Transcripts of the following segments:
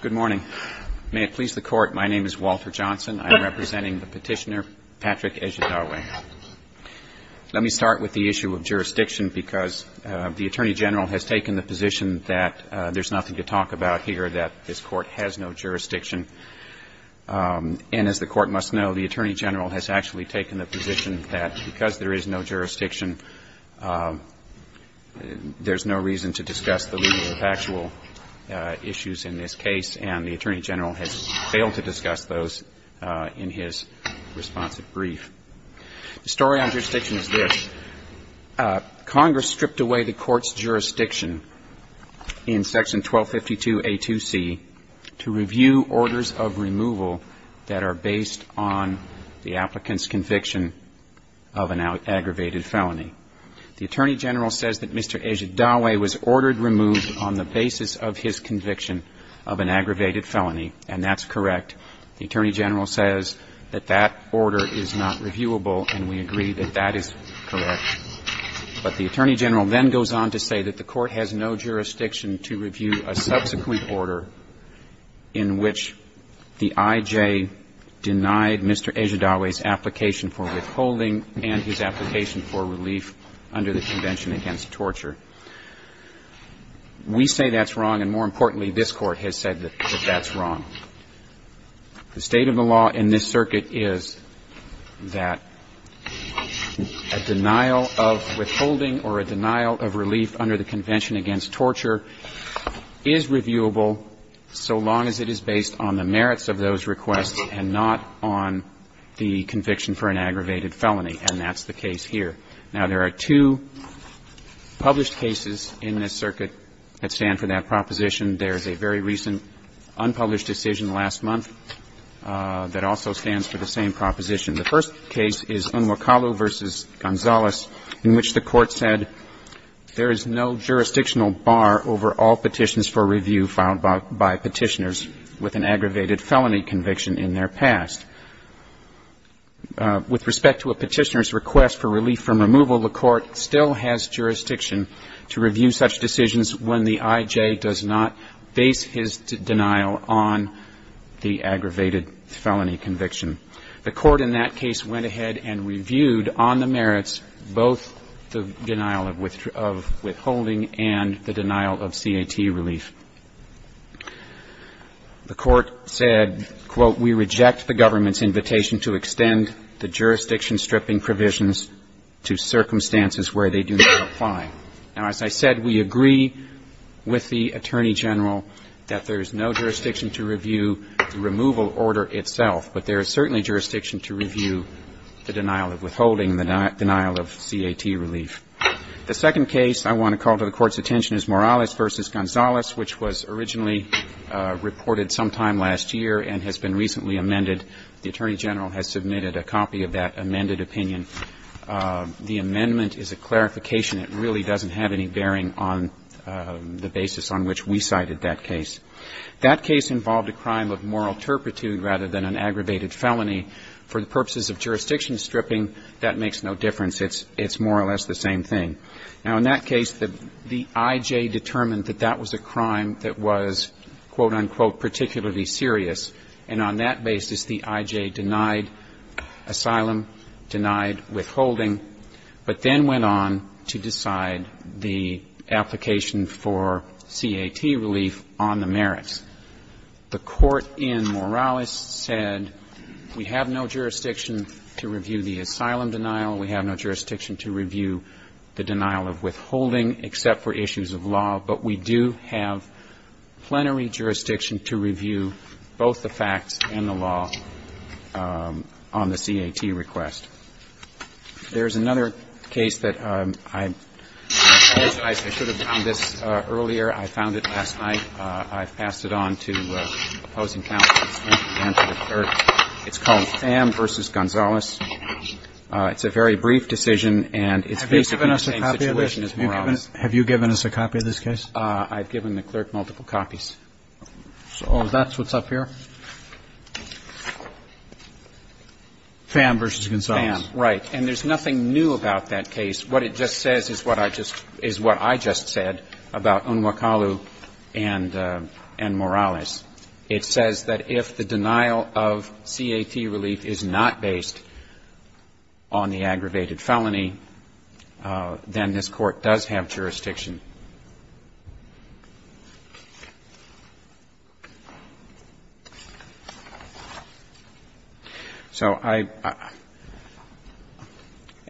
Good morning. May it please the Court, my name is Walter Johnson. I'm representing the petitioner Patrick Ejedawe. Let me start with the issue of jurisdiction because the Attorney General has taken the position that there's nothing to talk about here, that this Court has no jurisdiction. And as the Court must know, the Attorney General has actually taken the position that because there is no jurisdiction, there's no reason to discuss the legal or factual issues in this case, and the Attorney General has failed to discuss those in his responsive brief. The story on jurisdiction is this. Congress stripped away the Court's jurisdiction in Section 1252A2C to review orders of removal that are based on the applicant's conviction of an aggravated felony. The Attorney General says that Mr. Ejedawe was ordered removed on the basis of his conviction of an aggravated felony, and that's correct. The Attorney General says that that order is not reviewable, and we agree that that is correct. But the Attorney General then goes on to say that the Court has no jurisdiction to review a subsequent order in which the I.J. denied Mr. Ejedawe's application for withholding and his application for relief under the Convention Against Torture. We say that's wrong, and more importantly, this Court has said that that's wrong. The state of the law in this circuit is that a denial of withholding or a denial of relief under the Convention Against Torture is reviewable so long as it is based on the merits of those requests and not on the conviction for an aggravated felony, and that's the case here. Now, there are two published cases in this circuit that stand for that proposition. There's a very recent unpublished decision last month that also stands for the same proposition. The first case is Unwakalu v. Gonzalez, in which the Court said there is no jurisdictional bar over all petitions for review filed by Petitioners with an aggravated felony conviction in their past. With respect to a Petitioner's request for relief from removal, the Court still has jurisdiction to review such decisions when the I.J. does not base his denial on the aggravated felony conviction. The Court in that case went ahead and reviewed on the merits both the denial of withholding and the denial of C.A.T. relief. The Court said, quote, we reject the government's invitation to extend the jurisdiction-stripping provisions to circumstances where they do not apply. Now, as I said, we agree with the Attorney General that there is no jurisdiction to review the removal order itself, but there is certainly jurisdiction to review the denial of withholding, the denial of C.A.T. relief. The second case I want to call to the Court's attention is Morales v. Gonzalez, which was originally reported sometime last year and has been recently amended. The Attorney General has submitted a copy of that amended opinion. The amendment is a clarification. It really doesn't have any bearing on the basis on which we cited that case. That case involved a crime of moral turpitude rather than an aggravated felony. For the purposes of jurisdiction stripping, that makes no difference. It's more or less the same thing. Now, in that case, the I.J. determined that that was a crime that was, quote, unquote, particularly serious. And on that basis, the I.J. denied asylum, denied withholding, but then went on to decide the application for C.A.T. relief on the merits. The Court in Morales said we have no jurisdiction to review the asylum denial, we have no jurisdiction to review the denial of withholding except for issues of law, but we do have plenary jurisdiction to review both the facts and the law on the C.A.T. request. There's another case that I should have found this earlier. I found it last night. I've passed it on to opposing counsels. It's called Pham v. Gonzalez. It's a very brief decision and it's basically the same situation as Morales. Have you given us a copy of this case? I've given the clerk multiple copies. So that's what's up here? Pham v. Gonzalez. Pham, right. And there's nothing new about that case. What it just says is what I just said about Unwakalu and Morales. It says that if the denial of C.A.T. relief is not based on the aggravated felony, then this Court does have jurisdiction. So I –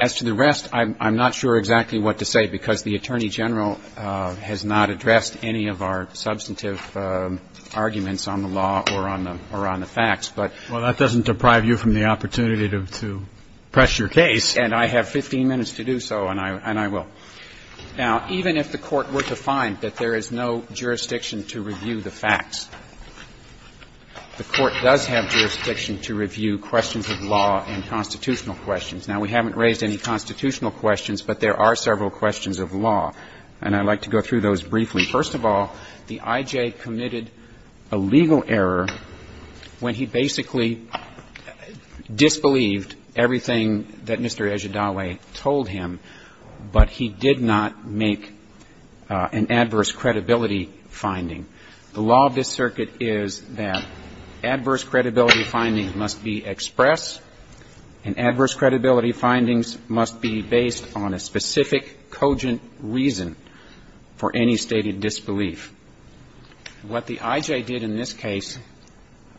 as to the rest, I'm not sure exactly what to say, because the Attorney General has not addressed any of our substantive arguments on the law or on the facts. But that doesn't deprive you from the opportunity to press your case. And I have 15 minutes to do so, and I will. Now, even if the Court were to find that there is no jurisdiction to review the facts, the Court does have jurisdiction to review questions of law and constitutional questions. Now, we haven't raised any constitutional questions, but there are several questions of law, and I'd like to go through those briefly. First of all, the I.J. Dawley committed a legal error when he basically disbelieved everything that Mr. I.J. Dawley told him, but he did not make an adverse credibility finding. The law of this Circuit is that adverse credibility findings must be expressed, and adverse credibility findings must be based on a specific cogent reason for any stated disbelief. What the I.J. did in this case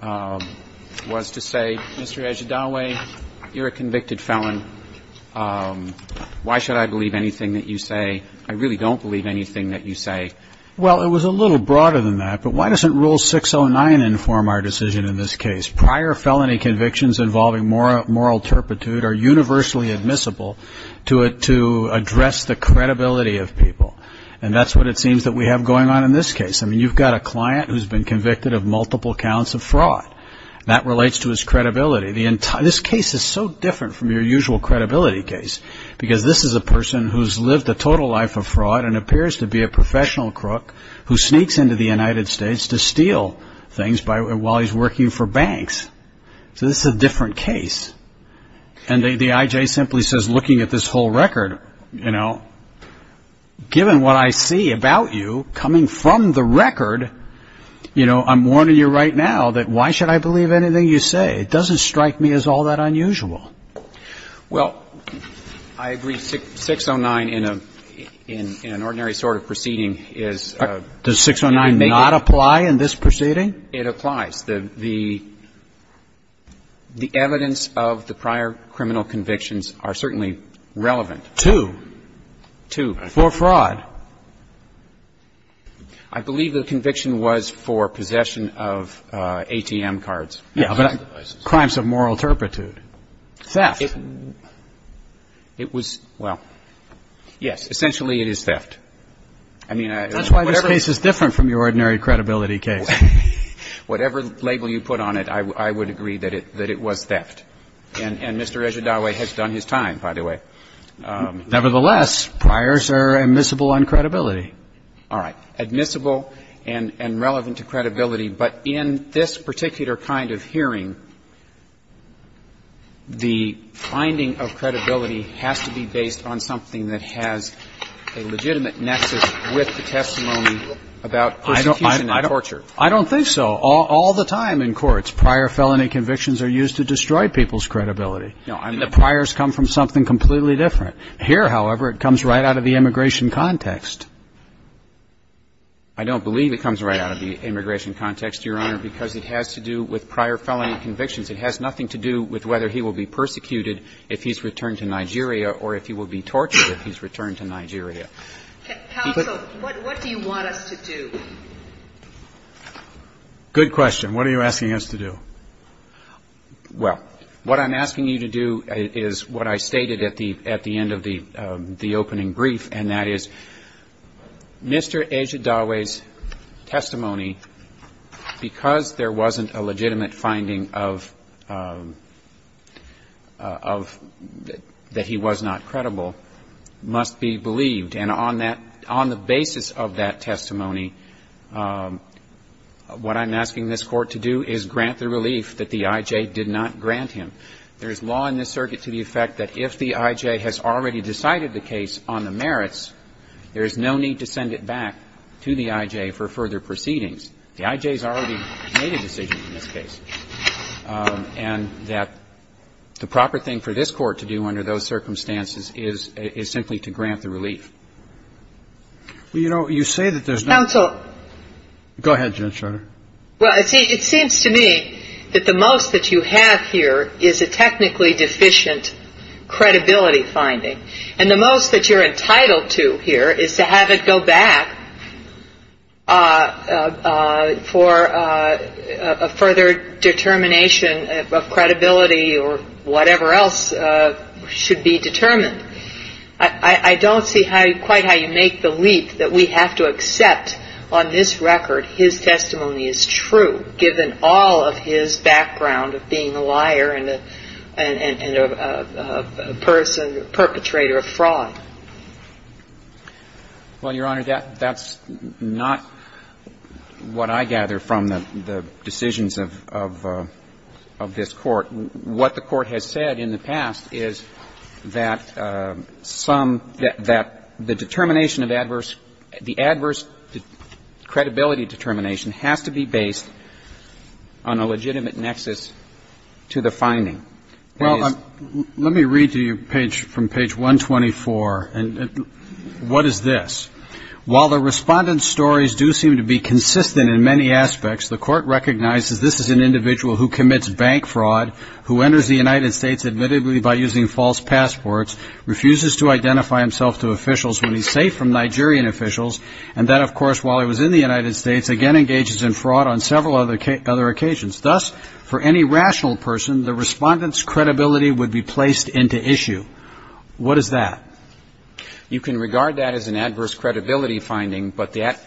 was to say, Mr. I.J. Dawley, you're a convicted felon. Why should I believe anything that you say? I really don't believe anything that you say. Well, it was a little broader than that, but why doesn't Rule 609 inform our decision in this case? Prior felony convictions involving moral turpitude are universally admissible to address the credibility of people, and that's what it seems that we have going on in this case. I mean, you've got a client who's been convicted of multiple counts of fraud. That relates to his credibility. This case is so different from your usual credibility case, because this is a person who's lived a total life of fraud and appears to be a professional crook who sneaks into the United States to steal things while he's working for banks. So this is a different case. And the I.J. simply says, looking at this whole record, you know, given what I see about you coming from the record, you know, I'm warning you right now that why should I believe anything you say? It doesn't strike me as all that unusual. Well, I agree. 609 in an ordinary sort of proceeding is... Does 609 not apply in this proceeding? It applies. The evidence of the prior criminal convictions are certainly relevant. To? To. For fraud. I believe the conviction was for possession of ATM cards. Yeah, but crimes of moral turpitude. Theft. It was – well, yes. Essentially, it is theft. I mean, whatever... Whatever label you put on it, I would agree that it was theft. And Mr. Ejidawi has done his time, by the way. Nevertheless, priors are admissible on credibility. All right. Admissible and relevant to credibility. But in this particular kind of hearing, the finding of credibility has to be based on something that has a legitimate nexus with the testimony about persecution and torture. I don't think so. All the time in courts, prior felony convictions are used to destroy people's credibility. No. I mean, the priors come from something completely different. Here, however, it comes right out of the immigration context. I don't believe it comes right out of the immigration context, Your Honor, because it has to do with prior felony convictions. It has nothing to do with whether he will be persecuted if he's returned to Nigeria or if he will be tortured if he's returned to Nigeria. Counsel, what do you want us to do? Good question. What are you asking us to do? Well, what I'm asking you to do is what I stated at the end of the opening brief, and that is, Mr. Ejidawi's testimony, because there wasn't a legitimate finding of that he was not credible, must be believed. And on that, on the basis of that testimony, what I'm asking this Court to do is grant the relief that the I.J. did not grant him. There is law in this circuit to the effect that if the I.J. has already decided the case on the merits, there is no need to send it back to the I.J. for further proceedings. The I.J. has already made a decision in this case, and that the proper thing for this Well, you know, you say that there's no... Counsel. Go ahead, Judge Schroeder. Well, it seems to me that the most that you have here is a technically deficient credibility finding. And the most that you're entitled to here is to have it go back for a further determination of credibility or whatever else should be determined. I don't see quite how you make the leap that we have to accept on this record his testimony is true, given all of his background of being a liar and a person, a perpetrator of fraud. Well, Your Honor, that's not what I gather from the decisions of this Court. What the Court has said in the past is that some, that the determination of adverse, the adverse credibility determination has to be based on a legitimate nexus to the finding. Well, let me read to you from page 124. And what is this? While the Respondent's stories do seem to be consistent in many aspects, the Court recognizes this is an individual who commits bank fraud, who enters the United States admittedly by using false passports, refuses to identify himself to officials when he's safe from Nigerian officials, and that, of course, while he was in the United States, again engages in fraud on several other occasions. Thus, for any rational person, the Respondent's credibility would be placed into issue. What is that? You can regard that as an adverse credibility finding, but that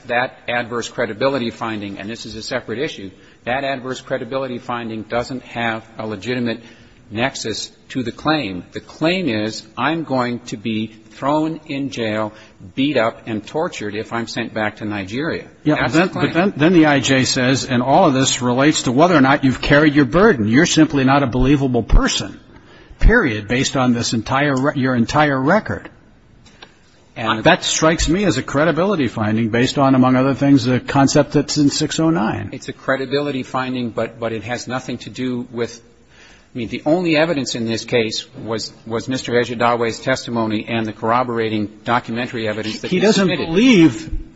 adverse credibility finding, and this is a separate issue, that adverse credibility finding doesn't have a legitimate nexus to the claim. The claim is I'm going to be thrown in jail, beat up, and tortured if I'm sent back to Nigeria. That's the claim. But then the IJ says, and all of this relates to whether or not you've carried your burden. You're simply not a believable person, period, based on this entire, your entire record. And that strikes me as a credibility finding based on, among other things, the evidence in 609. It's a credibility finding, but it has nothing to do with, I mean, the only evidence in this case was Mr. Ejidawi's testimony and the corroborating documentary evidence that he submitted. He doesn't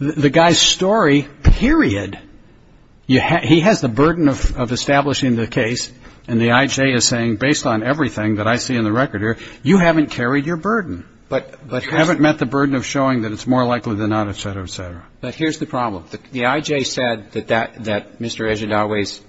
believe the guy's story, period. He has the burden of establishing the case, and the IJ is saying, based on everything that I see in the record here, you haven't carried your burden. But here's the problem. You haven't met the burden of showing that it's more likely than not, et cetera, et cetera. But here's the problem. The IJ said that that Mr. Ejidawi's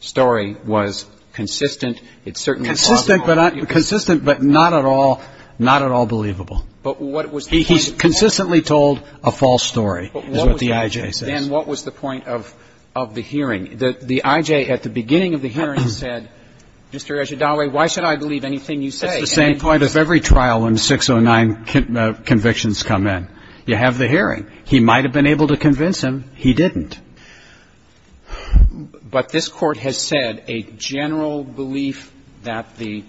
story was consistent. It certainly is plausible. Consistent, but not at all believable. But what was the point of the hearing? He consistently told a false story, is what the IJ says. Then what was the point of the hearing? The IJ at the beginning of the hearing said, Mr. Ejidawi, why should I believe anything you say? You have the hearing. He might have been able to convince him. He didn't. But this Court has said a general belief that the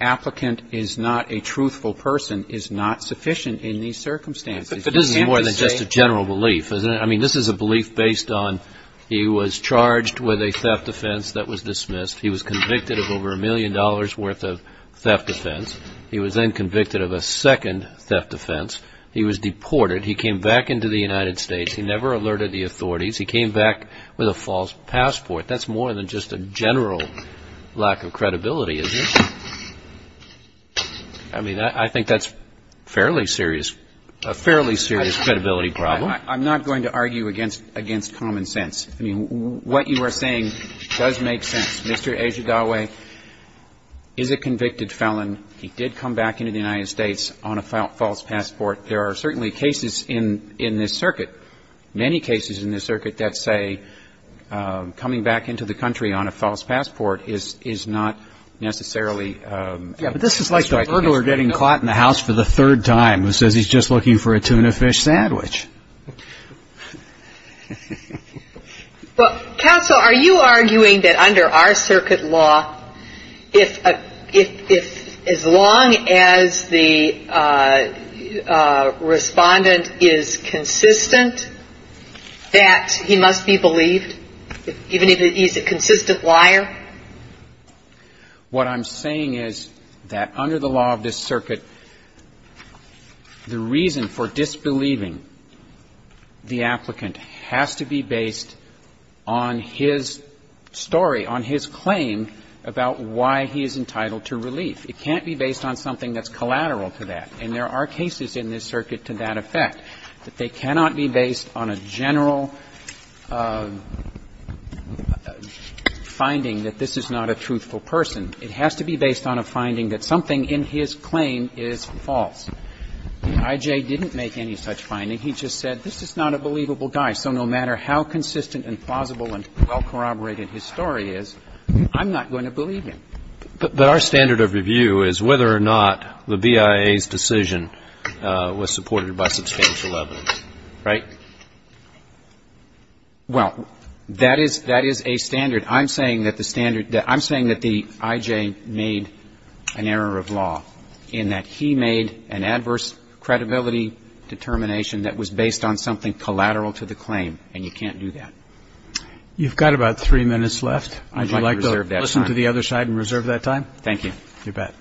applicant is not a truthful person is not sufficient in these circumstances. But this is more than just a general belief, isn't it? I mean, this is a belief based on he was charged with a theft offense that was dismissed. He was convicted of over a million dollars' worth of theft offense. He was then convicted of a second theft offense. He was deported. He came back into the United States. He never alerted the authorities. He came back with a false passport. That's more than just a general lack of credibility, isn't it? I mean, I think that's fairly serious, a fairly serious credibility problem. I'm not going to argue against common sense. I mean, what you are saying does make sense. Mr. Ejidawi is a convicted felon. He did come back into the United States on a false passport. There are certainly cases in this circuit, many cases in this circuit that say coming back into the country on a false passport is not necessarily a strike against him. Yeah, but this is like the burglar getting caught in the house for the third time who says he's just looking for a tuna fish sandwich. Counsel, are you arguing that under our circuit law, if as long as the Respondent is consistent, that he must be believed, even if he's a consistent liar? What I'm saying is that under the law of this circuit, the reason for disbelieving the applicant has to be based on his story, on his claim about why he is entitled to relief. It can't be based on something that's collateral to that. And there are cases in this circuit to that effect, that they cannot be based on a general finding that this is not a truthful person. It has to be based on a finding that something in his claim is false. The I.J. didn't make any such finding. He just said this is not a believable guy. So no matter how consistent and plausible and well corroborated his story is, I'm not going to believe him. But our standard of review is whether or not the BIA's decision was supported by substantial evidence, right? Well, that is a standard. I'm saying that the standard that the I.J. made an error of law in that he made an error of law in that he made an adverse credibility determination that was based on something collateral to the claim, and you can't do that. You've got about three minutes left. I'd like to listen to the other side and reserve that time. Thank you. Your bet.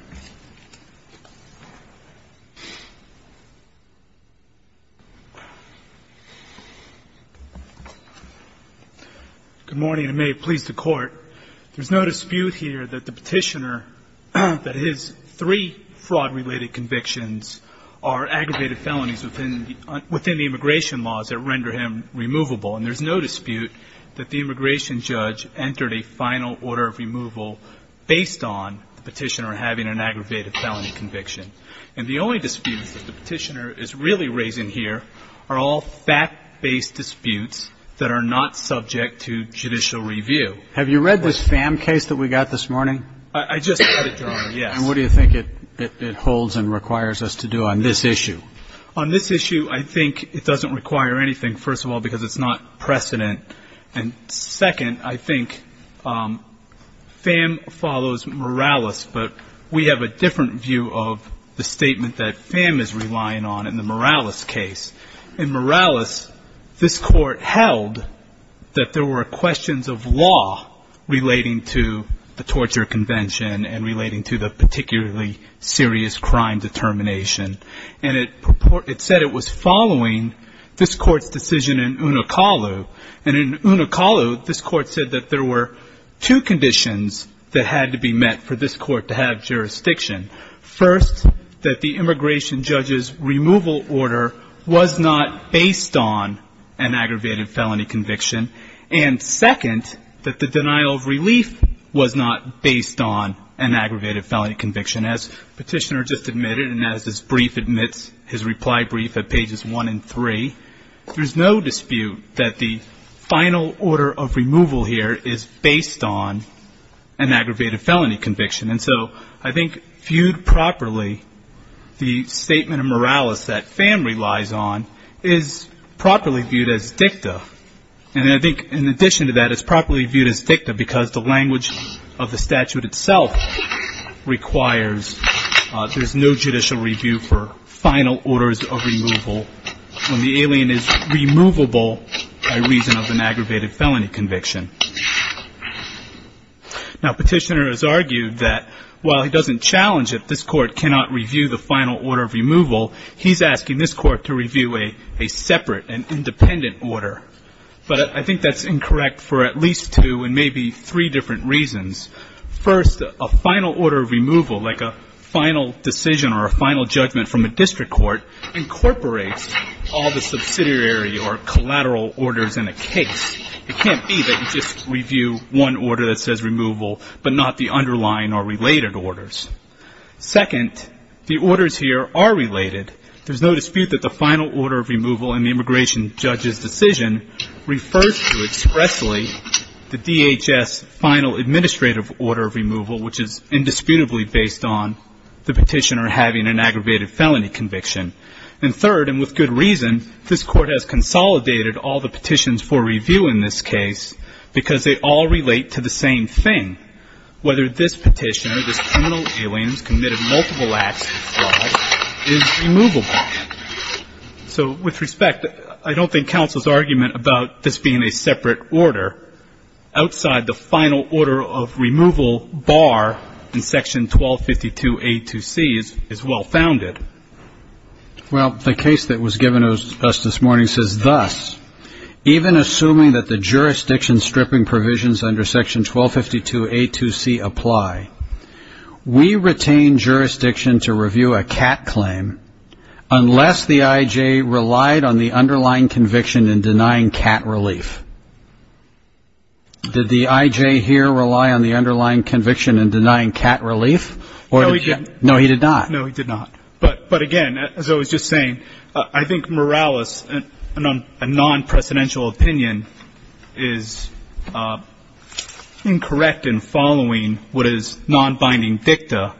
Good morning, and may it please the Court. There's no dispute here that the Petitioner, that his three fraud-related convictions are aggravated felonies within the immigration laws that render him removable, and there's no dispute that the immigration judge entered a final order of removal based on the Petitioner having an aggravated felony conviction. And the only dispute that the Petitioner is really raising here are all fact-based disputes that are not subject to judicial review. Have you read this Pham case that we got this morning? I just had it drawn, yes. And what do you think it holds and requires us to do on this issue? On this issue, I think it doesn't require anything, first of all, because it's not precedent. And second, I think Pham follows Morales, but we have a different view of the statement that Pham is relying on in the Morales case. In Morales, this Court held that there were questions of law relating to the torture convention and relating to the particularly serious crime determination. And it said it was following this Court's decision in Unakalu. And in Unakalu, this Court said that there were two conditions that had to be met for this Court to have jurisdiction. First, that the immigration judge's removal order was not based on an aggravated felony conviction. And second, that the denial of relief was not based on an aggravated felony conviction. As Petitioner just admitted and as this brief admits, his reply brief at pages 1 and 3, there's no dispute that the final order of removal here is based on an aggravated felony conviction. And so I think viewed properly, the statement of Morales that Pham relies on is properly viewed as dicta. And I think in addition to that, it's properly viewed as dicta because the language of the statute itself requires there's no judicial review for final orders of removal when the alien is removable by reason of an aggravated felony conviction. Now, Petitioner has argued that while he doesn't challenge that this Court cannot review the final order of removal, he's asking this Court to review a separate and independent order. But I think that's incorrect for at least two and maybe three different reasons. First, a final order of removal, like a final decision or a final judgment from a district court, incorporates all the subsidiary or collateral orders in a case. It can't be that you just review one order that says removal but not the underlying or related orders. Second, the orders here are related. There's no dispute that the final order of removal in the immigration judge's decision refers to expressly the DHS final administrative order of removal, which is indisputably based on the petitioner having an aggravated felony conviction. And third, and with good reason, this Court has consolidated all the petitions for review in this case because they all relate to the same thing, whether this petitioner, this criminal alien who's committed multiple acts of fraud, is removable. So with respect, I don't think counsel's argument about this being a separate order outside the final order of removal bar in Section 1252A2C is well-founded. Well, the case that was given to us this morning says thus, even assuming that the jurisdiction stripping provisions under Section 1252A2C apply, we retain jurisdiction to review a CAT claim unless the IJ relied on the underlying conviction in denying CAT relief. Did the IJ here rely on the underlying conviction in denying CAT relief? No, he didn't. No, he did not. No, he did not. But, again, as I was just saying, I think Morales, a non-presidential opinion, is incorrect in following what is non-binding dicta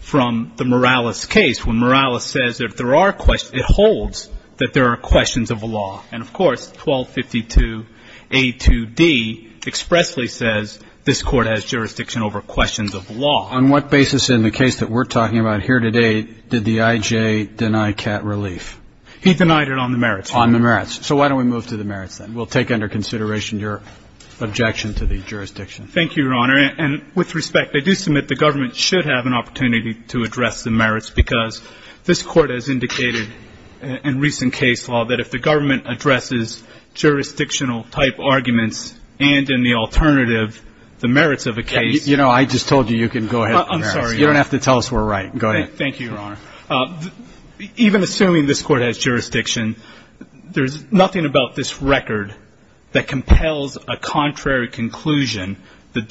from the Morales case, when Morales says if there are questions, it holds that there are questions of the law. And, of course, 1252A2D expressly says this Court has jurisdiction over questions of the law. On what basis in the case that we're talking about here today did the IJ deny CAT relief? He denied it on the merits. On the merits. So why don't we move to the merits, then? We'll take under consideration your objection to the jurisdiction. Thank you, Your Honor. And with respect, I do submit the government should have an opportunity to address the merits because this Court has indicated in recent case law that if the government addresses jurisdictional-type arguments and, in the alternative, the merits of a case. You know, I just told you you can go ahead with the merits. I'm sorry. You don't have to tell us we're right. Go ahead. Thank you, Your Honor. Even assuming this Court has jurisdiction, there's nothing about this record that compels a contrary conclusion, the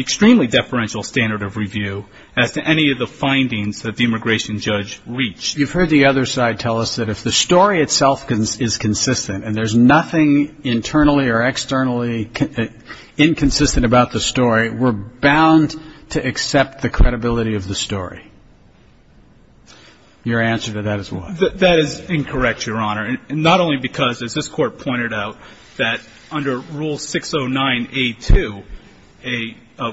extremely deferential standard of review as to any of the findings that the immigration judge reached. You've heard the other side tell us that if the story itself is consistent and there's nothing internally or externally inconsistent about the story, we're bound to accept the credibility of the story. Your answer to that is what? That is incorrect, Your Honor, not only because, as this Court pointed out, that under Rule 609A2,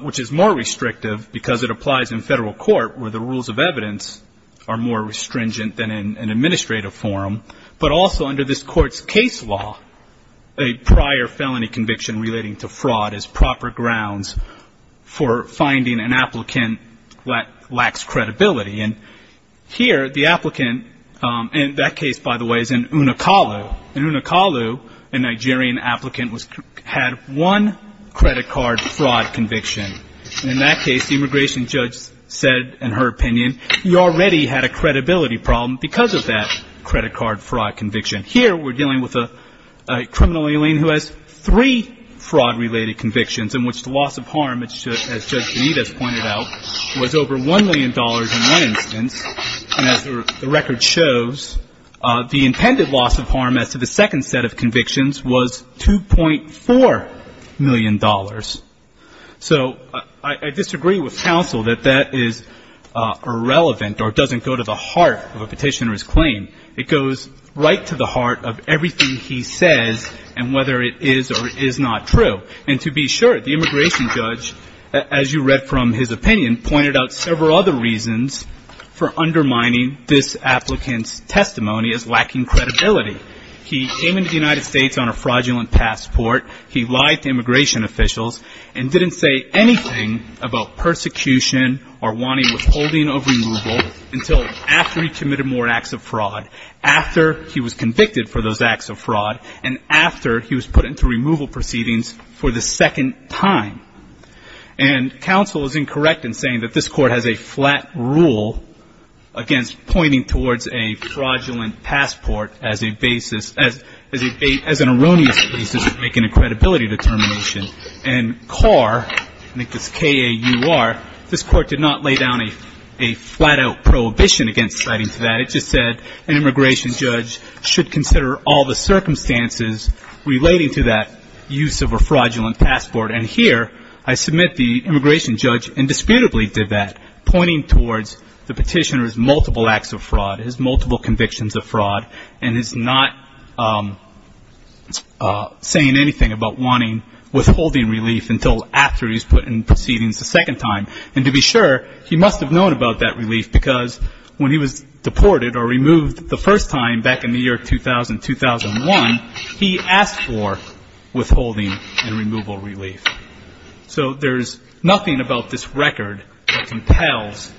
which is more restrictive because it applies in federal court where the rules of evidence are more restringent than in an administrative forum, but also under this Court's case law, a prior felony conviction relating to fraud is proper grounds for finding an applicant that lacks credibility. And here the applicant, and that case, by the way, is in Unakalu. In Unakalu, a Nigerian applicant had one credit card fraud conviction. In that case, the immigration judge said, in her opinion, you already had a credibility problem because of that credit card fraud conviction. Here we're dealing with a criminal alien who has three fraud-related convictions in which the loss of harm, as Judge Benitez pointed out, was over $1 million in one instance. And as the record shows, the intended loss of harm as to the second set of convictions was $2.4 million. So I disagree with counsel that that is irrelevant or doesn't go to the heart of a petitioner's claim. It goes right to the heart of everything he says and whether it is or is not true. And to be sure, the immigration judge, as you read from his opinion, pointed out several other reasons for undermining this applicant's testimony as lacking credibility. He came into the United States on a fraudulent passport. He lied to immigration officials and didn't say anything about persecution or wanting withholding of removal until after he committed more acts of fraud, after he was convicted for those acts of fraud, and after he was put into removal proceedings for the second time. And counsel is incorrect in saying that this Court has a flat rule against pointing towards a fraudulent passport as an erroneous basis for making a credibility determination. And CAR, I think it's K-A-U-R, this Court did not lay down a flat-out prohibition against citing to that. I just said an immigration judge should consider all the circumstances relating to that use of a fraudulent passport. And here I submit the immigration judge indisputably did that, pointing towards the petitioner's multiple acts of fraud, his multiple convictions of fraud, and his not saying anything about wanting withholding relief until after he's put in proceedings a second time. And to be sure, he must have known about that relief because when he was deported or removed the first time back in the year 2000-2001, he asked for withholding and removal relief. So there's nothing about this record that compels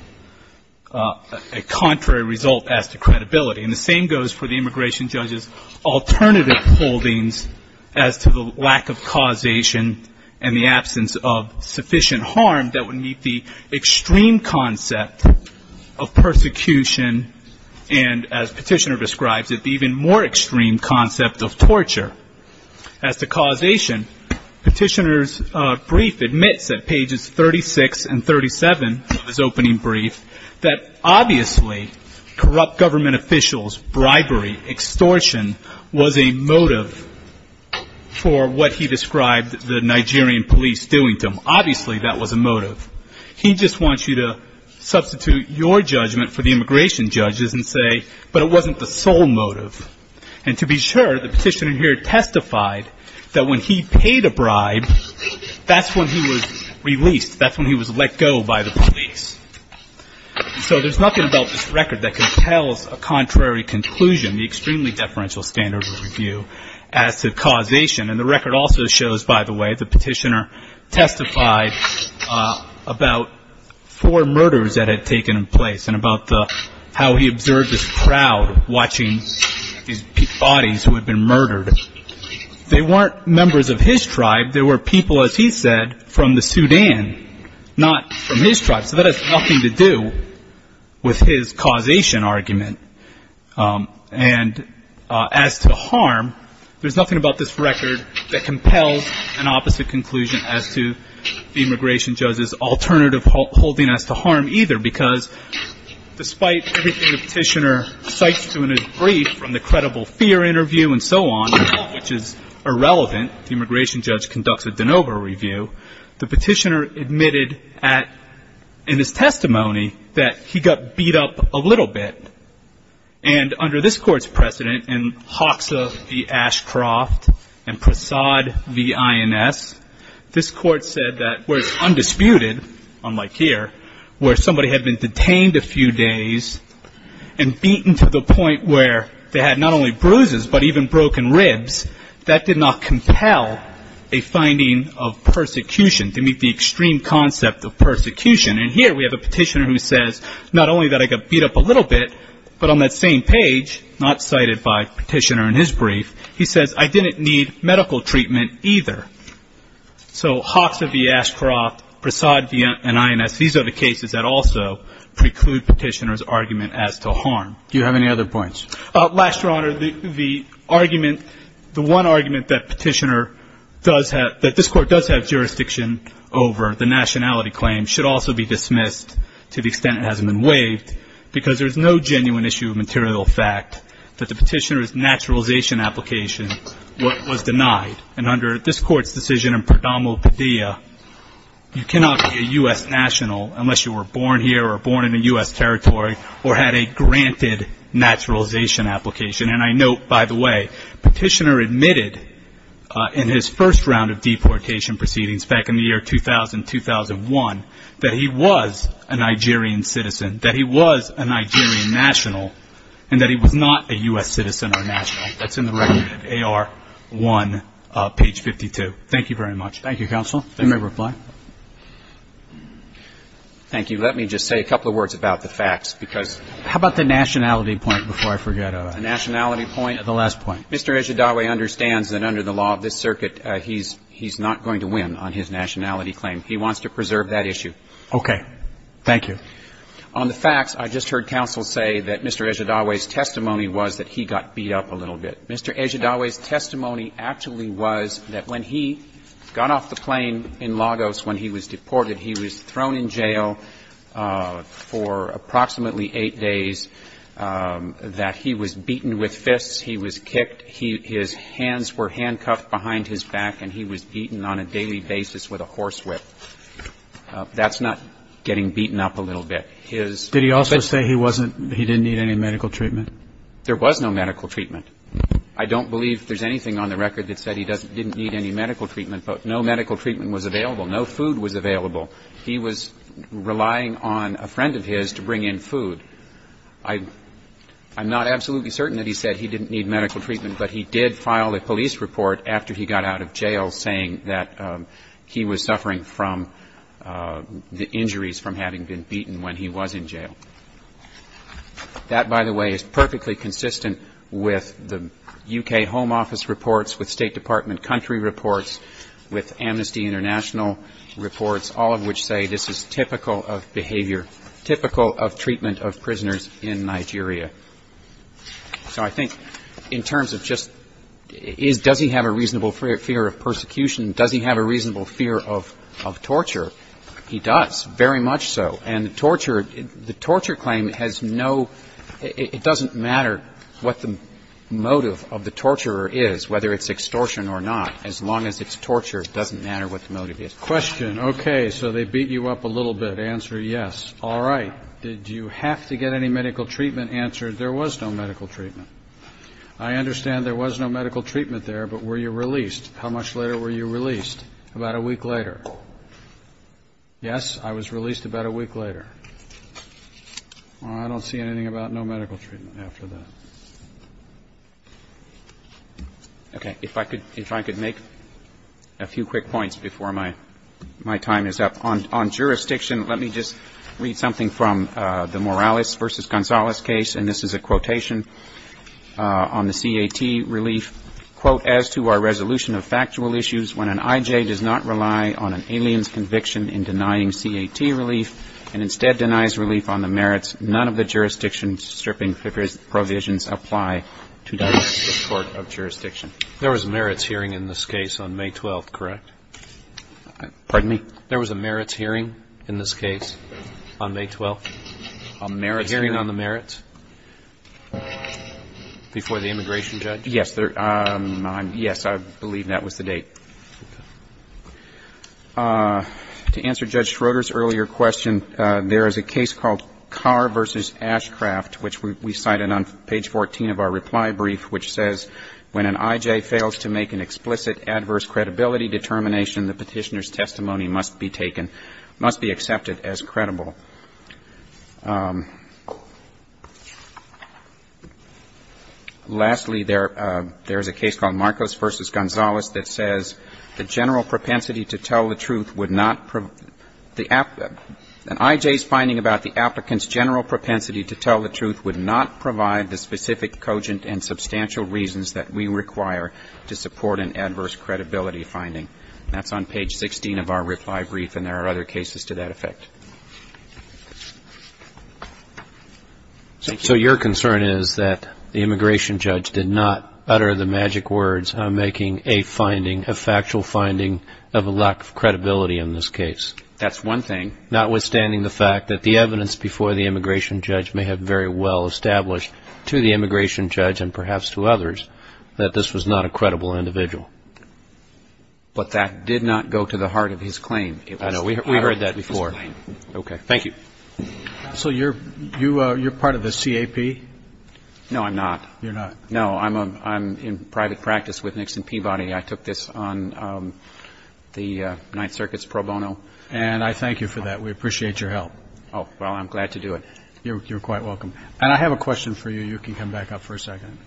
a contrary result as to credibility. And the same goes for the immigration judge's alternative holdings as to the lack of causation and the absence of sufficient harm that would meet the extreme concept of persecution and, as Petitioner describes it, the even more extreme concept of torture. As to causation, Petitioner's brief admits at pages 36 and 37 of his opening brief that obviously corrupt government officials, bribery, extortion, was a motive for what he described the Nigerian police doing to him. Obviously that was a motive. He just wants you to substitute your judgment for the immigration judge's and say, but it wasn't the sole motive. And to be sure, the petitioner here testified that when he paid a bribe, that's when he was released. That's when he was let go by the police. So there's nothing about this record that compels a contrary conclusion, the extremely deferential standard of review, as to causation. And the record also shows, by the way, the petitioner testified about four murders that had taken place and about how he observed this crowd watching these bodies who had been murdered. They weren't members of his tribe. They were people, as he said, from the Sudan, not from his tribe. So that has nothing to do with his causation argument. And as to harm, there's nothing about this record that compels an opposite conclusion as to the immigration judge's alternative holding as to harm either, because despite everything the petitioner cites through in his brief, from the credible fear interview and so on, which is irrelevant, the immigration judge conducts a de novo review, the petitioner admitted in his testimony that he got beat up a little bit. And under this Court's precedent in Hoxa v. Ashcroft and Prasad v. INS, this Court said that where it's undisputed, unlike here, where somebody had been detained a few days and beaten to the point where they had not only bruises but even broken ribs, that did not compel a finding of persecution, to meet the extreme concept of persecution. And here we have a petitioner who says not only that I got beat up a little bit, but on that same page, not cited by the petitioner in his brief, he says, I didn't need medical treatment either. So Hoxa v. Ashcroft, Prasad v. INS, these are the cases that also preclude the petitioner's argument as to harm. Do you have any other points? Last, Your Honor, the argument, the one argument that petitioner does have, that this Court does have jurisdiction over the nationality claim should also be dismissed to the extent it hasn't been waived because there's no genuine issue of material fact that the petitioner's naturalization application was denied. And under this Court's decision in Perdomo Padilla, you cannot be a U.S. national unless you were born here or born in a U.S. territory or had a granted naturalization application. And I note, by the way, petitioner admitted in his first round of deportation proceedings, back in the year 2000-2001, that he was a Nigerian citizen, that he was a Nigerian national, and that he was not a U.S. citizen or national. That's in the record of AR 1, page 52. Thank you very much. Thank you, counsel. You may reply. Thank you. Let me just say a couple of words about the facts, because ---- How about the nationality point before I forget? The nationality point? The last point. Mr. Ejidawe understands that under the law of this circuit, he's not going to win on his nationality claim. He wants to preserve that issue. Okay. Thank you. On the facts, I just heard counsel say that Mr. Ejidawe's testimony was that he got beat up a little bit. Mr. Ejidawe's testimony actually was that when he got off the plane in Lagos when he was deported, he was thrown in jail for approximately eight days, that he was beaten with fists, he was kicked, his hands were handcuffed behind his back, and he was beaten on a daily basis with a horse whip. That's not getting beaten up a little bit. His ---- Did he also say he wasn't ---- he didn't need any medical treatment? There was no medical treatment. I don't believe there's anything on the record that said he didn't need any medical treatment, but no medical treatment was available. No food was available. He was relying on a friend of his to bring in food. I'm not absolutely certain that he said he didn't need medical treatment, but he did file a police report after he got out of jail saying that he was suffering from the injuries from having been beaten when he was in jail. That, by the way, is perfectly consistent with the U.K. Home Office reports, with all of which say this is typical of behavior, typical of treatment of prisoners in Nigeria. So I think in terms of just does he have a reasonable fear of persecution, does he have a reasonable fear of torture? He does, very much so. And the torture claim has no ---- it doesn't matter what the motive of the torturer is, whether it's extortion or not, as long as it's torture, it doesn't matter what the motive is. Question. Okay. So they beat you up a little bit. Answer, yes. All right. Did you have to get any medical treatment? Answer, there was no medical treatment. I understand there was no medical treatment there, but were you released? How much later were you released? About a week later. Yes, I was released about a week later. Well, I don't see anything about no medical treatment after that. All right. Okay. If I could make a few quick points before my time is up. On jurisdiction, let me just read something from the Morales v. Gonzalez case, and this is a quotation on the CAT relief. Quote, as to our resolution of factual issues, when an I.J. does not rely on an alien's conviction in denying CAT relief and instead denies relief on the merits, none of the merits hearing in this case on May 12th, correct? Pardon me? There was a merits hearing in this case on May 12th? A merits hearing? A hearing on the merits before the immigration judge? Yes. Yes, I believe that was the date. Okay. To answer Judge Schroeder's earlier question, there is a case called Carr v. Ashcraft, which we cited on page 14 of our reply brief, which says, when an I.J. fails to make an explicit adverse credibility determination, the petitioner's testimony must be taken, must be accepted as credible. Lastly, there is a case called Marcos v. Gonzalez that says, the general propensity to tell the truth would not, an I.J.'s finding about the applicant's general propensity to tell the truth would not provide the specific cogent and substantial reasons that we require to support an adverse credibility finding. That's on page 16 of our reply brief, and there are other cases to that effect. So your concern is that the immigration judge did not utter the magic words of making a finding, a factual finding of a lack of credibility in this case? That's one thing. Notwithstanding the fact that the evidence before the immigration judge may have very well established to the immigration judge and perhaps to others that this was not a credible individual. But that did not go to the heart of his claim. I know. We heard that before. Okay. Thank you. So you're part of the CAP? No, I'm not. You're not. No, I'm in private practice with Nixon Peabody. I took this on the Ninth Circuit's pro bono. And I thank you for that. We appreciate your help. Oh, well, I'm glad to do it. You're quite welcome. And I have a question for you. You can come back up for a second.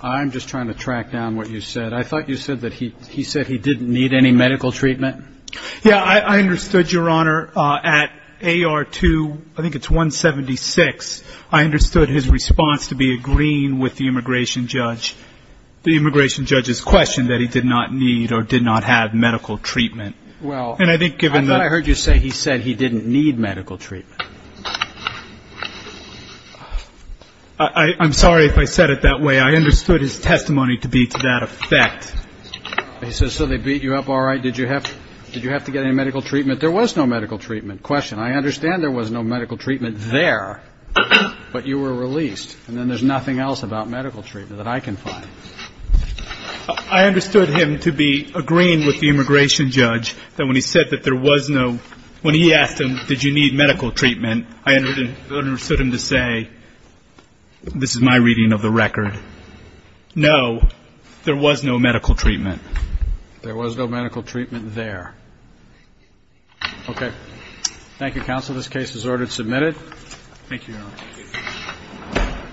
I'm just trying to track down what you said. I thought you said that he said he didn't need any medical treatment. Yeah, I understood, Your Honor. At AR2, I think it's 176, I understood his response to be agreeing with the immigration judge, the immigration judge's question that he did not need or did not have medical treatment. Well, I thought I heard you say he said he didn't need medical treatment. I'm sorry if I said it that way. I understood his testimony to be to that effect. He says, so they beat you up, all right? Did you have to get any medical treatment? There was no medical treatment. Question, I understand there was no medical treatment there, but you were released. And then there's nothing else about medical treatment that I can find. I understood him to be agreeing with the immigration judge that when he said that there was no When he asked him, did you need medical treatment, I understood him to say, this is my reading of the record. No, there was no medical treatment. There was no medical treatment there. Okay. Thank you, counsel. Thank you, Your Honor.